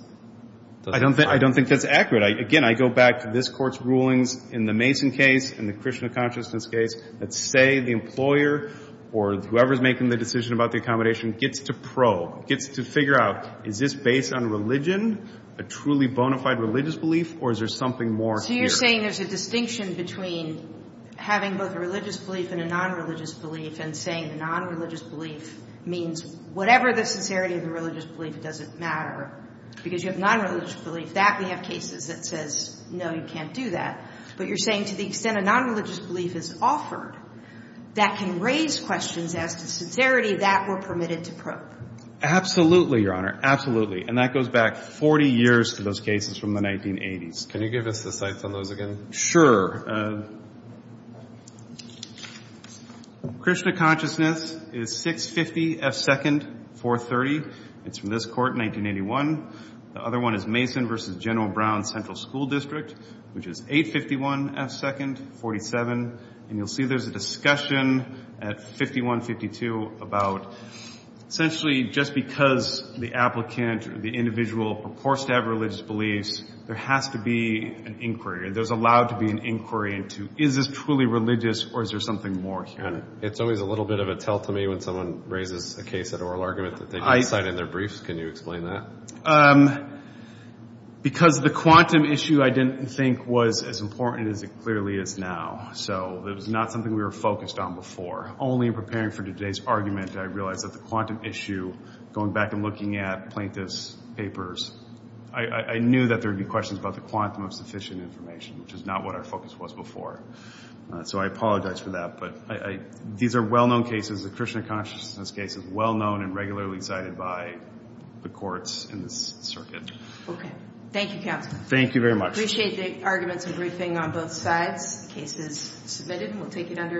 I don't think that's accurate. Again, I go back to this Court's rulings in the Mason case, in the Krishna consciousness case, that say the employer or whoever's making the decision about the accommodation gets to probe, gets to figure out is this based on religion, a truly bona fide religious belief, or is there something more here? So you're saying there's a distinction between having both a religious belief and a non-religious belief and saying the non-religious belief means whatever the sincerity of the religious belief doesn't matter because you have non-religious belief. That we have cases that says, no, you can't do that. But you're saying to the extent a non-religious belief is offered, that can raise questions as to sincerity that were permitted to probe. Absolutely, Your Honor, absolutely. And that goes back 40 years to those cases from the 1980s. Can you give us the cites on those again? Sure. Krishna consciousness is 650 F. Second, 430. It's from this Court in 1981. The other one is Mason v. General Brown Central School District, which is 851 F. Second, 47. And you'll see there's a discussion at 5152 about essentially just because the applicant or the individual purports to have religious beliefs, there has to be an inquiry. There's allowed to be an inquiry into is this truly religious or is there something more here? It's always a little bit of a tell-to-me when someone raises a case at oral argument that they can cite in their briefs. Can you explain that? Because the quantum issue I didn't think was as important as it clearly is now. So it was not something we were focused on before. Only in preparing for today's argument, I realized that the quantum issue, going back and looking at plaintiff's papers, I knew that there would be questions about the quantum of sufficient information, which is not what our focus was before. So I apologize for that. But these are well-known cases, the Krishna consciousness cases, well-known and regularly cited by the courts in this circuit. Okay. Thank you, counsel. Thank you very much. Appreciate the arguments and briefing on both sides. The case is submitted and we'll take it under advisement.